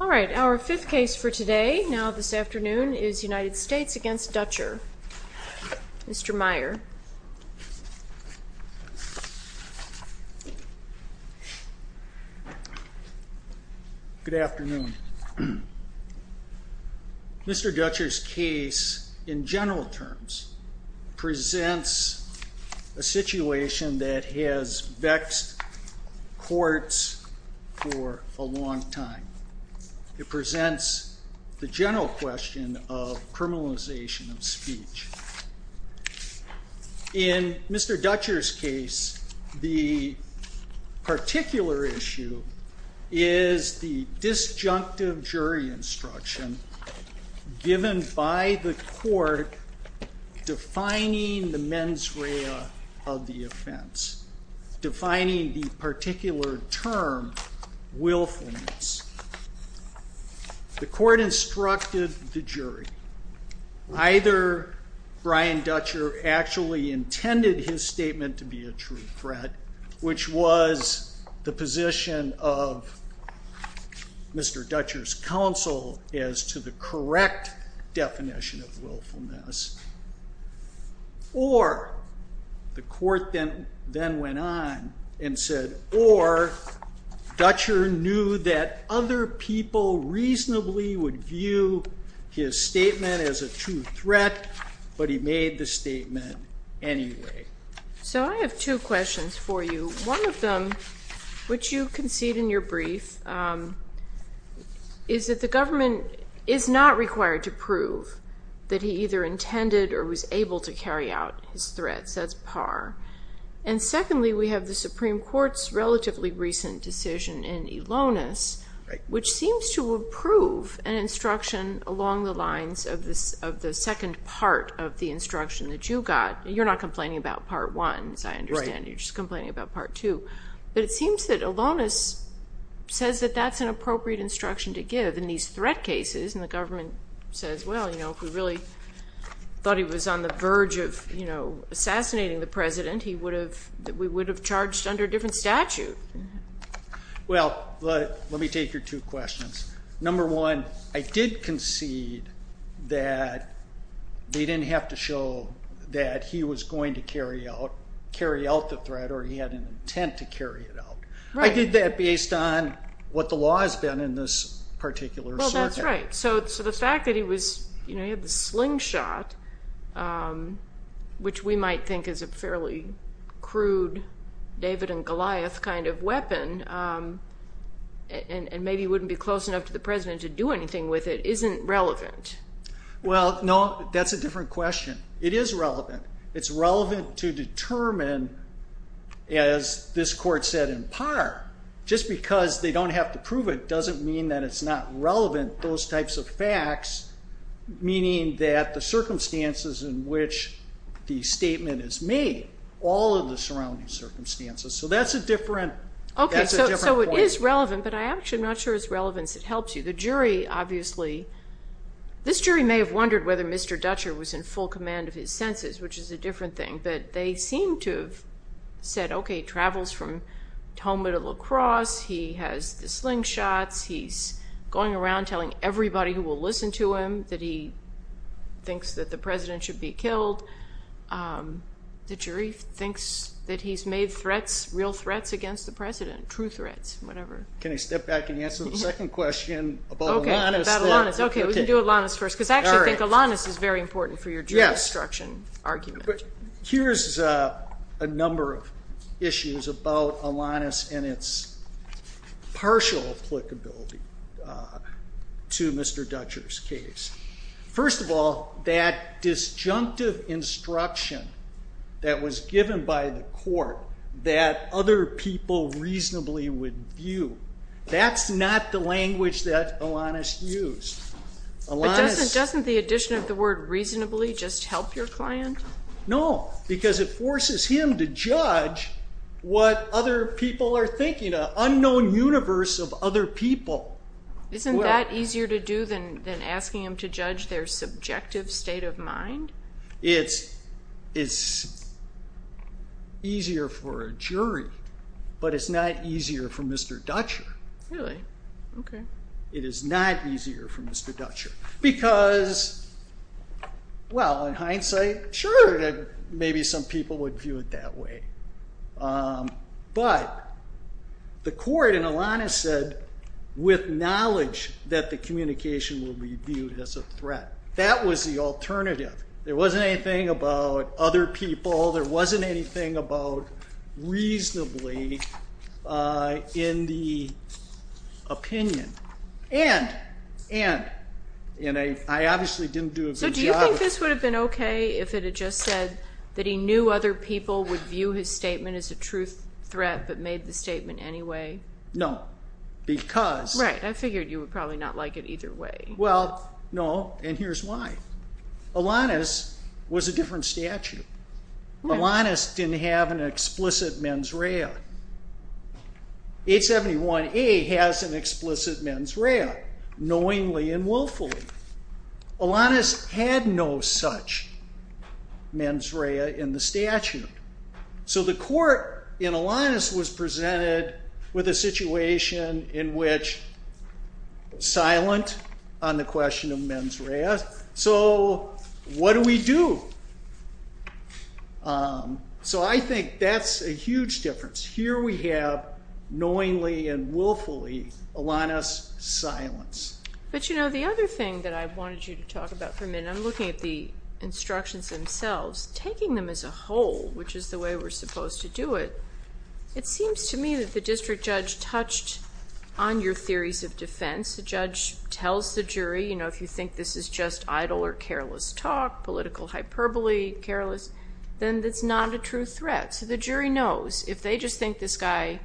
Our fifth case for today, now this afternoon, is United States v. Dutcher. Mr. Meier. Good afternoon. Mr. Dutcher's case, in general terms, presents a situation that has vexed courts for a long time. It presents the general question of criminalization of speech. In Mr. Dutcher's case, the particular issue is the disjunctive jury instruction given by the court defining the mens rea of the offense, defining the particular term willfulness. The court instructed the jury. Either Brian Dutcher actually intended his statement to be a true threat, which was the position of Mr. Dutcher's counsel as to the correct definition of willfulness. Or, the court then went on and said, or Dutcher knew that other people reasonably would view his statement as a true threat, but he made the statement anyway. So I have two questions for you. One of them, which you concede in your brief, is that the jury did not say that he either intended or was able to carry out his threat. That's par. And secondly, we have the Supreme Court's relatively recent decision in Elonis, which seems to approve an instruction along the lines of the second part of the instruction that you got. You're not complaining about Part 1, as I understand it. You're just complaining about Part 2. But it seems that Elonis says that that's an appropriate instruction to follow. If we really thought he was on the verge of assassinating the President, we would have charged under a different statute. Well, let me take your two questions. Number one, I did concede that they didn't have to show that he was going to carry out the threat or he had an intent to carry it out. I did that based on what the law has been in this particular circuit. That's right. So the fact that he had the slingshot, which we might think is a fairly crude David and Goliath kind of weapon, and maybe wouldn't be close enough to the President to do anything with it, isn't relevant? Well, no, that's a different question. It is relevant. It's relevant to determine, as this Court said in par, just because they don't have to prove it doesn't mean that it's not relevant, those types of facts, meaning that the circumstances in which the statement is made, all of the surrounding circumstances. So that's a different point. Okay, so it is relevant, but I'm actually not sure it's relevant, if it helps you. The jury, obviously, this jury may have wondered whether Mr. Dutcher was in full command of his senses, which is a different thing. But they seem to have said, okay, he travels from going around telling everybody who will listen to him that he thinks that the President should be killed. The jury thinks that he's made threats, real threats, against the President, true threats, whatever. Can I step back and answer the second question about Alanis? Okay, about Alanis. Okay, we can do Alanis first, because I actually think Alanis is very important for your jury instruction argument. Yes, but here's a number of issues about Alanis and its partial applicability. The two Mr. Dutcher's case. First of all, that disjunctive instruction that was given by the court that other people reasonably would view, that's not the language that Alanis used. But doesn't the addition of the word reasonably just help your client? No, because it forces him to judge what other people are thinking, an unknown universe of other people. Isn't that easier to do than asking him to judge their subjective state of mind? It's easier for a jury, but it's not easier for Mr. Dutcher. Really? Okay. It is not easier for Mr. Dutcher. Because, well, in hindsight, sure, maybe some people would view it that way. But the court in Alanis said, with knowledge that the communication will be viewed as a threat. That was the alternative. There wasn't anything about other people. There wasn't anything about reasonably in the opinion. And I obviously didn't do a good job of... Other people would view his statement as a truth threat, but made the statement anyway? No, because... Right. I figured you would probably not like it either way. Well, no, and here's why. Alanis was a different statute. Alanis didn't have an explicit mens rea. 871A has an explicit mens rea, knowingly and willfully. Alanis had no such mens rea in the statute. So the court in Alanis was presented with a situation in which silent on the question of mens rea. So what do we do? So I think that's a huge difference. Here we have, knowingly and willfully, Alanis' silence. But, you know, the other thing that I wanted you to talk about for a minute, and I'm looking at the instructions themselves, taking them as a whole, which is the way we're supposed to do it, it seems to me that the district judge touched on your theories of defense. The judge tells the jury, you know, if you think this is just idle or careless talk, political hyperbole, careless, then it's not a true threat. So the jury knows if they just think this guy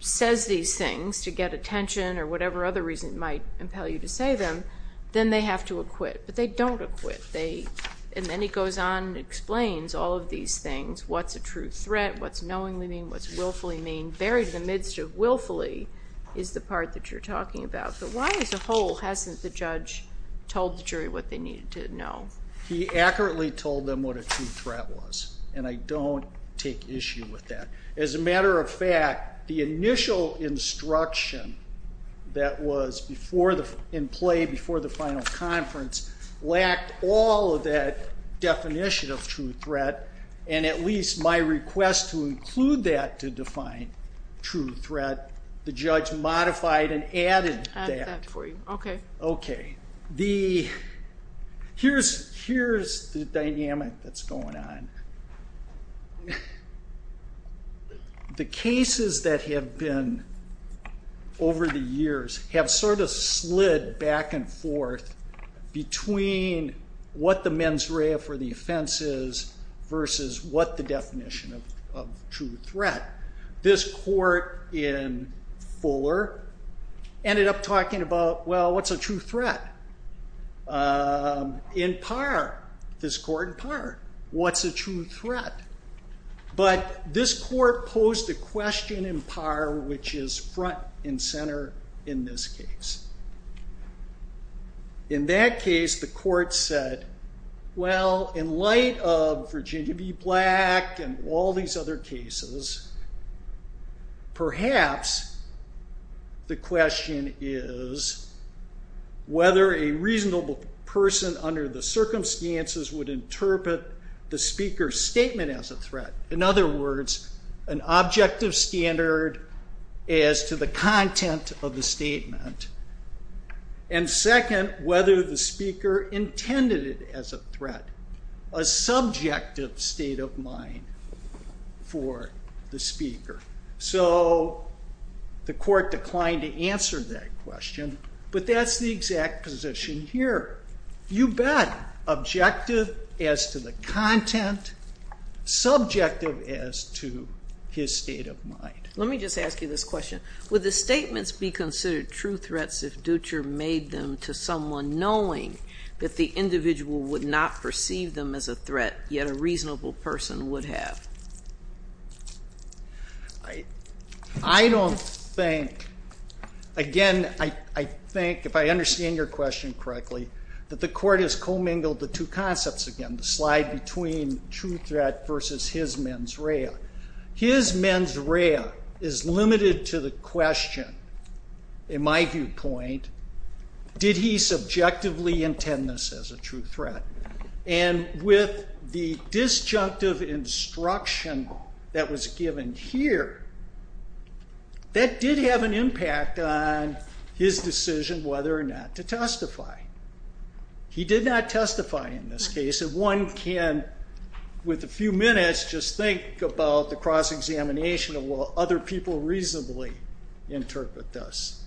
says these things to get attention or whatever other reason it might impel you to say them, then they have to acquit. But they don't acquit. And then he goes on and explains all of these things, what's a true threat, what's knowingly mean, what's willfully mean, buried in the midst of willfully is the part that you're talking about. But why as a whole hasn't the judge told the jury what they needed to know? He accurately told them what a true threat was. And I don't take issue with that. As in play before the final conference, lacked all of that definition of true threat. And at least my request to include that to define true threat, the judge modified and added that. Added that for you. Okay. Okay. Here's the dynamic that's going on. The cases that have been over the years have sort of slid back and forth between what the mens rea for the offense is versus what the definition of true threat. This court in Fuller ended up talking about, well, what's a true threat? In Parr, this court in Parr, what's a true threat? But this court posed a question in Parr, which is front and center in this case. In that case, the court said, well, in light of Virginia B. Black and all these other cases, perhaps the question is whether a reasonable person under the circumstances would interpret the speaker's statement as a threat. In other words, an objective standard as to the content of the statement. And second, whether the speaker intended it as a threat. A subjective state of mind for the speaker. So the court declined to answer that question, but that's the exact position here. You bet. Objective as to the content, subjective as to his state of mind. Let me just ask you this question. Would the statements be considered true threats if Dutcher made them to someone knowing that the individual would not perceive them as a threat, yet a reasonable person would have? I don't think. Again, I think if I understand your question correctly, that the court has co-mingled the two concepts again, the slide between true threat versus his mens rea. His mens rea is limited to the question, in my viewpoint, did he subjectively intend this as a true threat? And with the disjunctive instruction that was given here, that did have an impact on his decision whether or not to testify. He did not testify in this case, and one can, with a few minutes, just think about the cross-examination of will other people reasonably interpret this.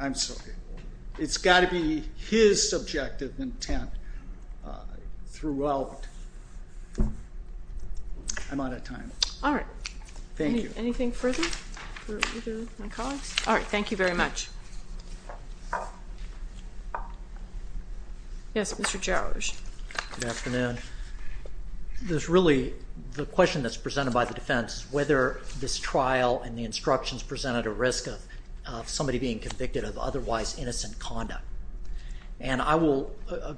I'm sorry. It's got to be his subjective intent throughout. I'm out of time. All right. Thank you. Anything further? All right. Thank you very much. Yes, Mr. Jowers. Good afternoon. There's really, the question that's presented by the defense is whether this trial and the instructions presented a risk of somebody being convicted of otherwise innocent conduct. And I will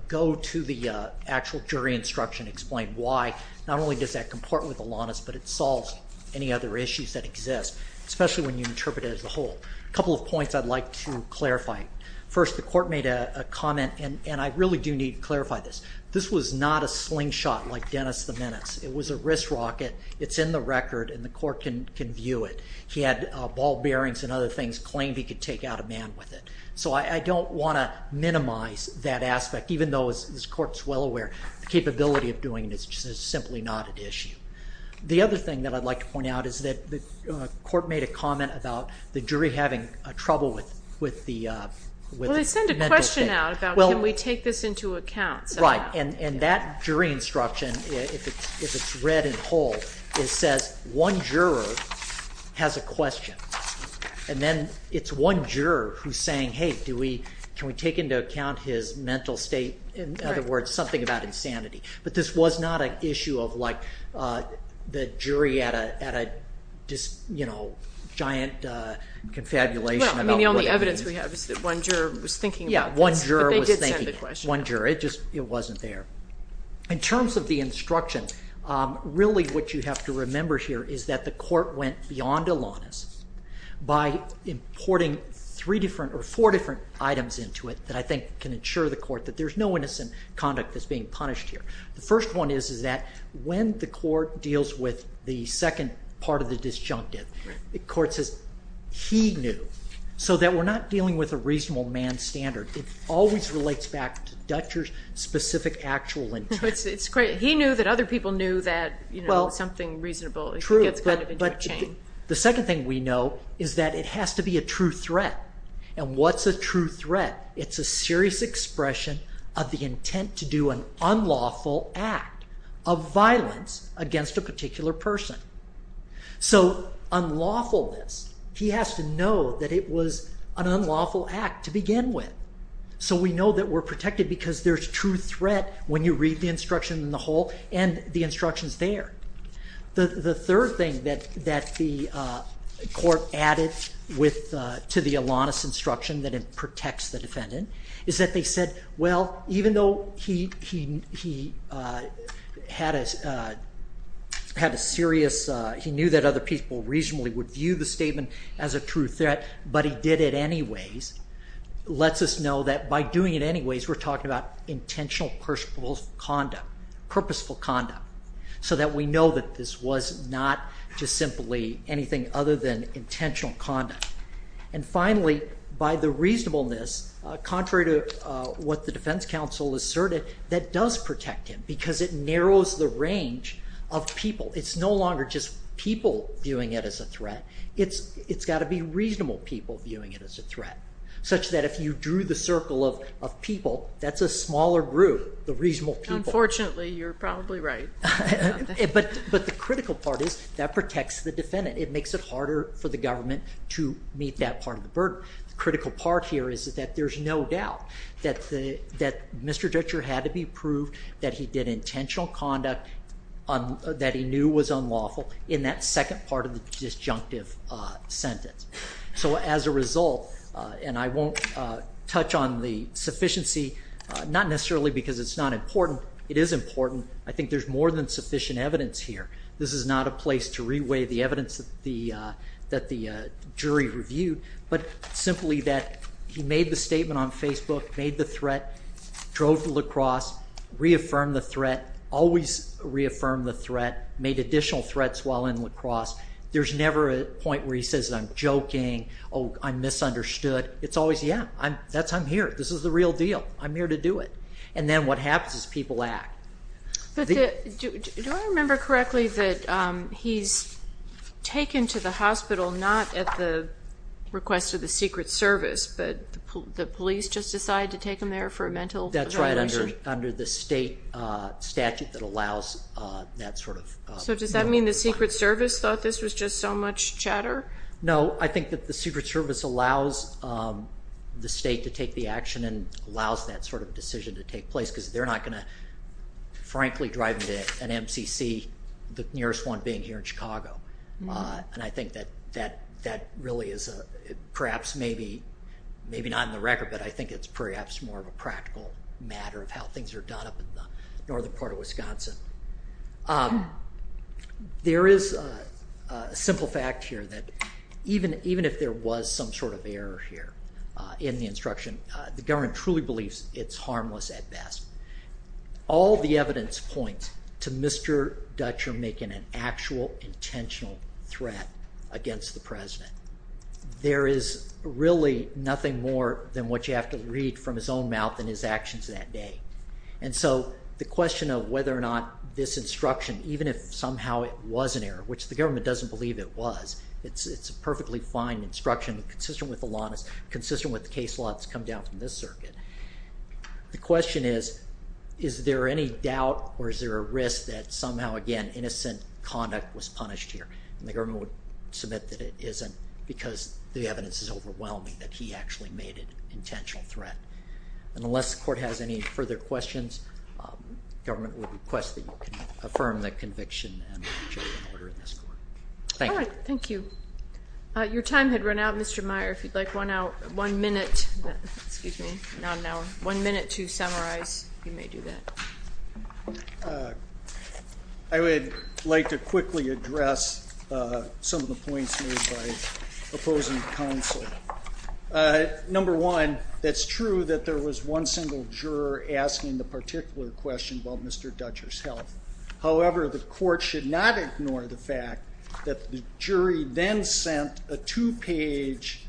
go to the actual jury instruction and explain why not only does that comport with Alanis, but it solves any other issues that exist, especially when you interpret it as a whole. A couple of points I'd like to clarify. First, the court made a comment, and I really do need to clarify this. This was not a slingshot like Dennis the Menace. It was a wrist rocket. It's in the record, and the court can view it. He had ball bearings and other things, claimed he could take out a man with it. So I don't want to minimize that aspect, even though this court's well aware the capability of doing this is simply not an issue. The other thing that I'd like to point out is that the court made a comment about the jury having trouble with the mental state. Well, they sent a question out about can we take this into account. Right. And that jury instruction, if it's read in whole, it says one juror has a question. And then it's one juror who's saying, hey, can we take into account his mental state? In other words, something about insanity. But this was not an issue of the jury at a giant confabulation. No, I mean the only evidence we have is that one juror was thinking about this. Yeah, one juror was thinking. But they did send the question. One juror. It just wasn't there. In terms of the instruction, really what you have to remember here is that the court went beyond Alanis by importing three different or four different items into it that I think can ensure the court that there's no innocent conduct that's being punished here. The first one is that when the court deals with the second part of the disjunctive, the court says he knew. So that we're not dealing with a reasonable man's standard. It always relates back to Dutcher's specific actual intent. It's great. He knew that other people knew that something reasonable gets kind of into a chain. The second thing we know is that it has to be a true threat. And what's a true threat? It's a serious expression of the intent to do an unlawful act of violence against a particular person. So unlawfulness, he has to know that it was an unlawful act to begin with. So we know that we're protected because there's true threat when you read the instruction in the whole and the instructions there. The third thing that the court added to the Alanis instruction that it protects the defendant is that they said, well, even though he had a serious, he knew that other people reasonably would view the statement as a true threat, but he did it anyways, lets us know that by doing it anyways, we're talking about intentional, purposeful conduct so that we know that this was not just simply anything other than intentional conduct. And finally, by the reasonableness, contrary to what the defense counsel asserted, that does protect him because it narrows the range of people. It's no longer just people viewing it as a threat. It's got to be reasonable people viewing it as a threat, such that if you drew the circle of people, that's a smaller group, the reasonable people. Unfortunately, you're probably right. But the critical part is that protects the defendant. It makes it harder for the government to meet that part of the burden. The critical part here is that there's no doubt that Mr. Dutcher had to be proved that he did intentional conduct that he knew was unlawful in that second part of the disjunctive sentence. So as a result, and I won't touch on the sufficiency, not necessarily because it's not important. It is important. I think there's more than sufficient evidence here. This is not a place to reweigh the evidence that the jury reviewed, but simply that he made the statement on Facebook, made the threat, drove to La Crosse, reaffirmed the threat, always reaffirmed the threat, made additional threats while in La Crosse. There's never a point where he says, I'm joking, I'm misunderstood. It's always, yeah, I'm here. This is the real deal. I'm here to do it. And then what happens is people act. Do I remember correctly that he's taken to the hospital not at the request of the Secret Service, but the police just decided to take him there for a mental violation? That's right, under the state statute that allows that sort of... So does that mean the Secret Service thought this was just so much chatter? No, I think that the Secret Service allows the state to take the action and allows that sort of decision to take place because they're not going to, frankly, drive him to an MCC, the nearest one being here in Chicago. And I think that that really is perhaps maybe not in the record, but I think it's perhaps more of a practical matter of how things are done up in the northern part of Wisconsin. There is a simple fact here that even if there was some sort of error here in the instruction, the government truly believes it's harmless at best. All the evidence points to Mr. Dutcher making an actual intentional threat against the president. There is really nothing more than what you have to read from his own mouth in his actions that day. And so the question of whether or not this instruction, even if somehow it was an error, which the government doesn't believe it was, it's a perfectly fine instruction consistent with the case law that's come down from this circuit. The question is, is there any doubt or is there a risk that somehow, again, innocent conduct was punished here? And the government would submit that it isn't because the evidence is overwhelming that he actually made an intentional threat. And unless the court has any further questions, the government would request that you can affirm the conviction and make a jury order in this court. Thank you. All right. Thank you. Your time had run out, Mr. Meyer. If you'd like one minute to summarize, you may do that. I would like to quickly address some of the points made by opposing counsel. Number one, it's true that there was one single juror asking the particular question about Mr. Dutcher's health. However, the court should not ignore the fact that the jury then sent a two-page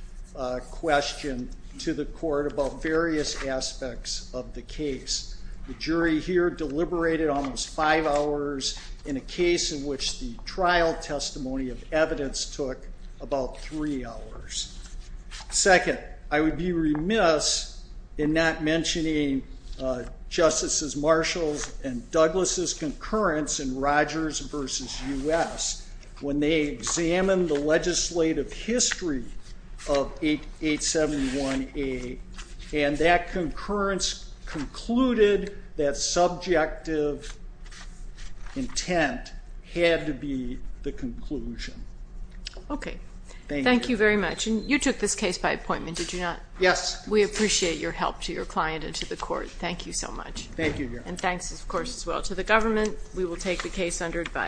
question to the court about various aspects of the case. The jury here deliberated almost five hours in a case in which the trial testimony of evidence took about three hours. Second, I would be remiss in not mentioning Justices Marshall's and Douglas' concurrence in Rogers v. U.S. when they examined the legislative history of 871A. And that concurrence concluded that subjective intent had to be the conclusion. Okay. Thank you. Thank you very much. And you took this case by appointment, did you not? Yes. We appreciate your help to your client and to the court. Thank you so much. Thank you, Your Honor. And thanks, of course, as well to the government. We will take the case under advisory.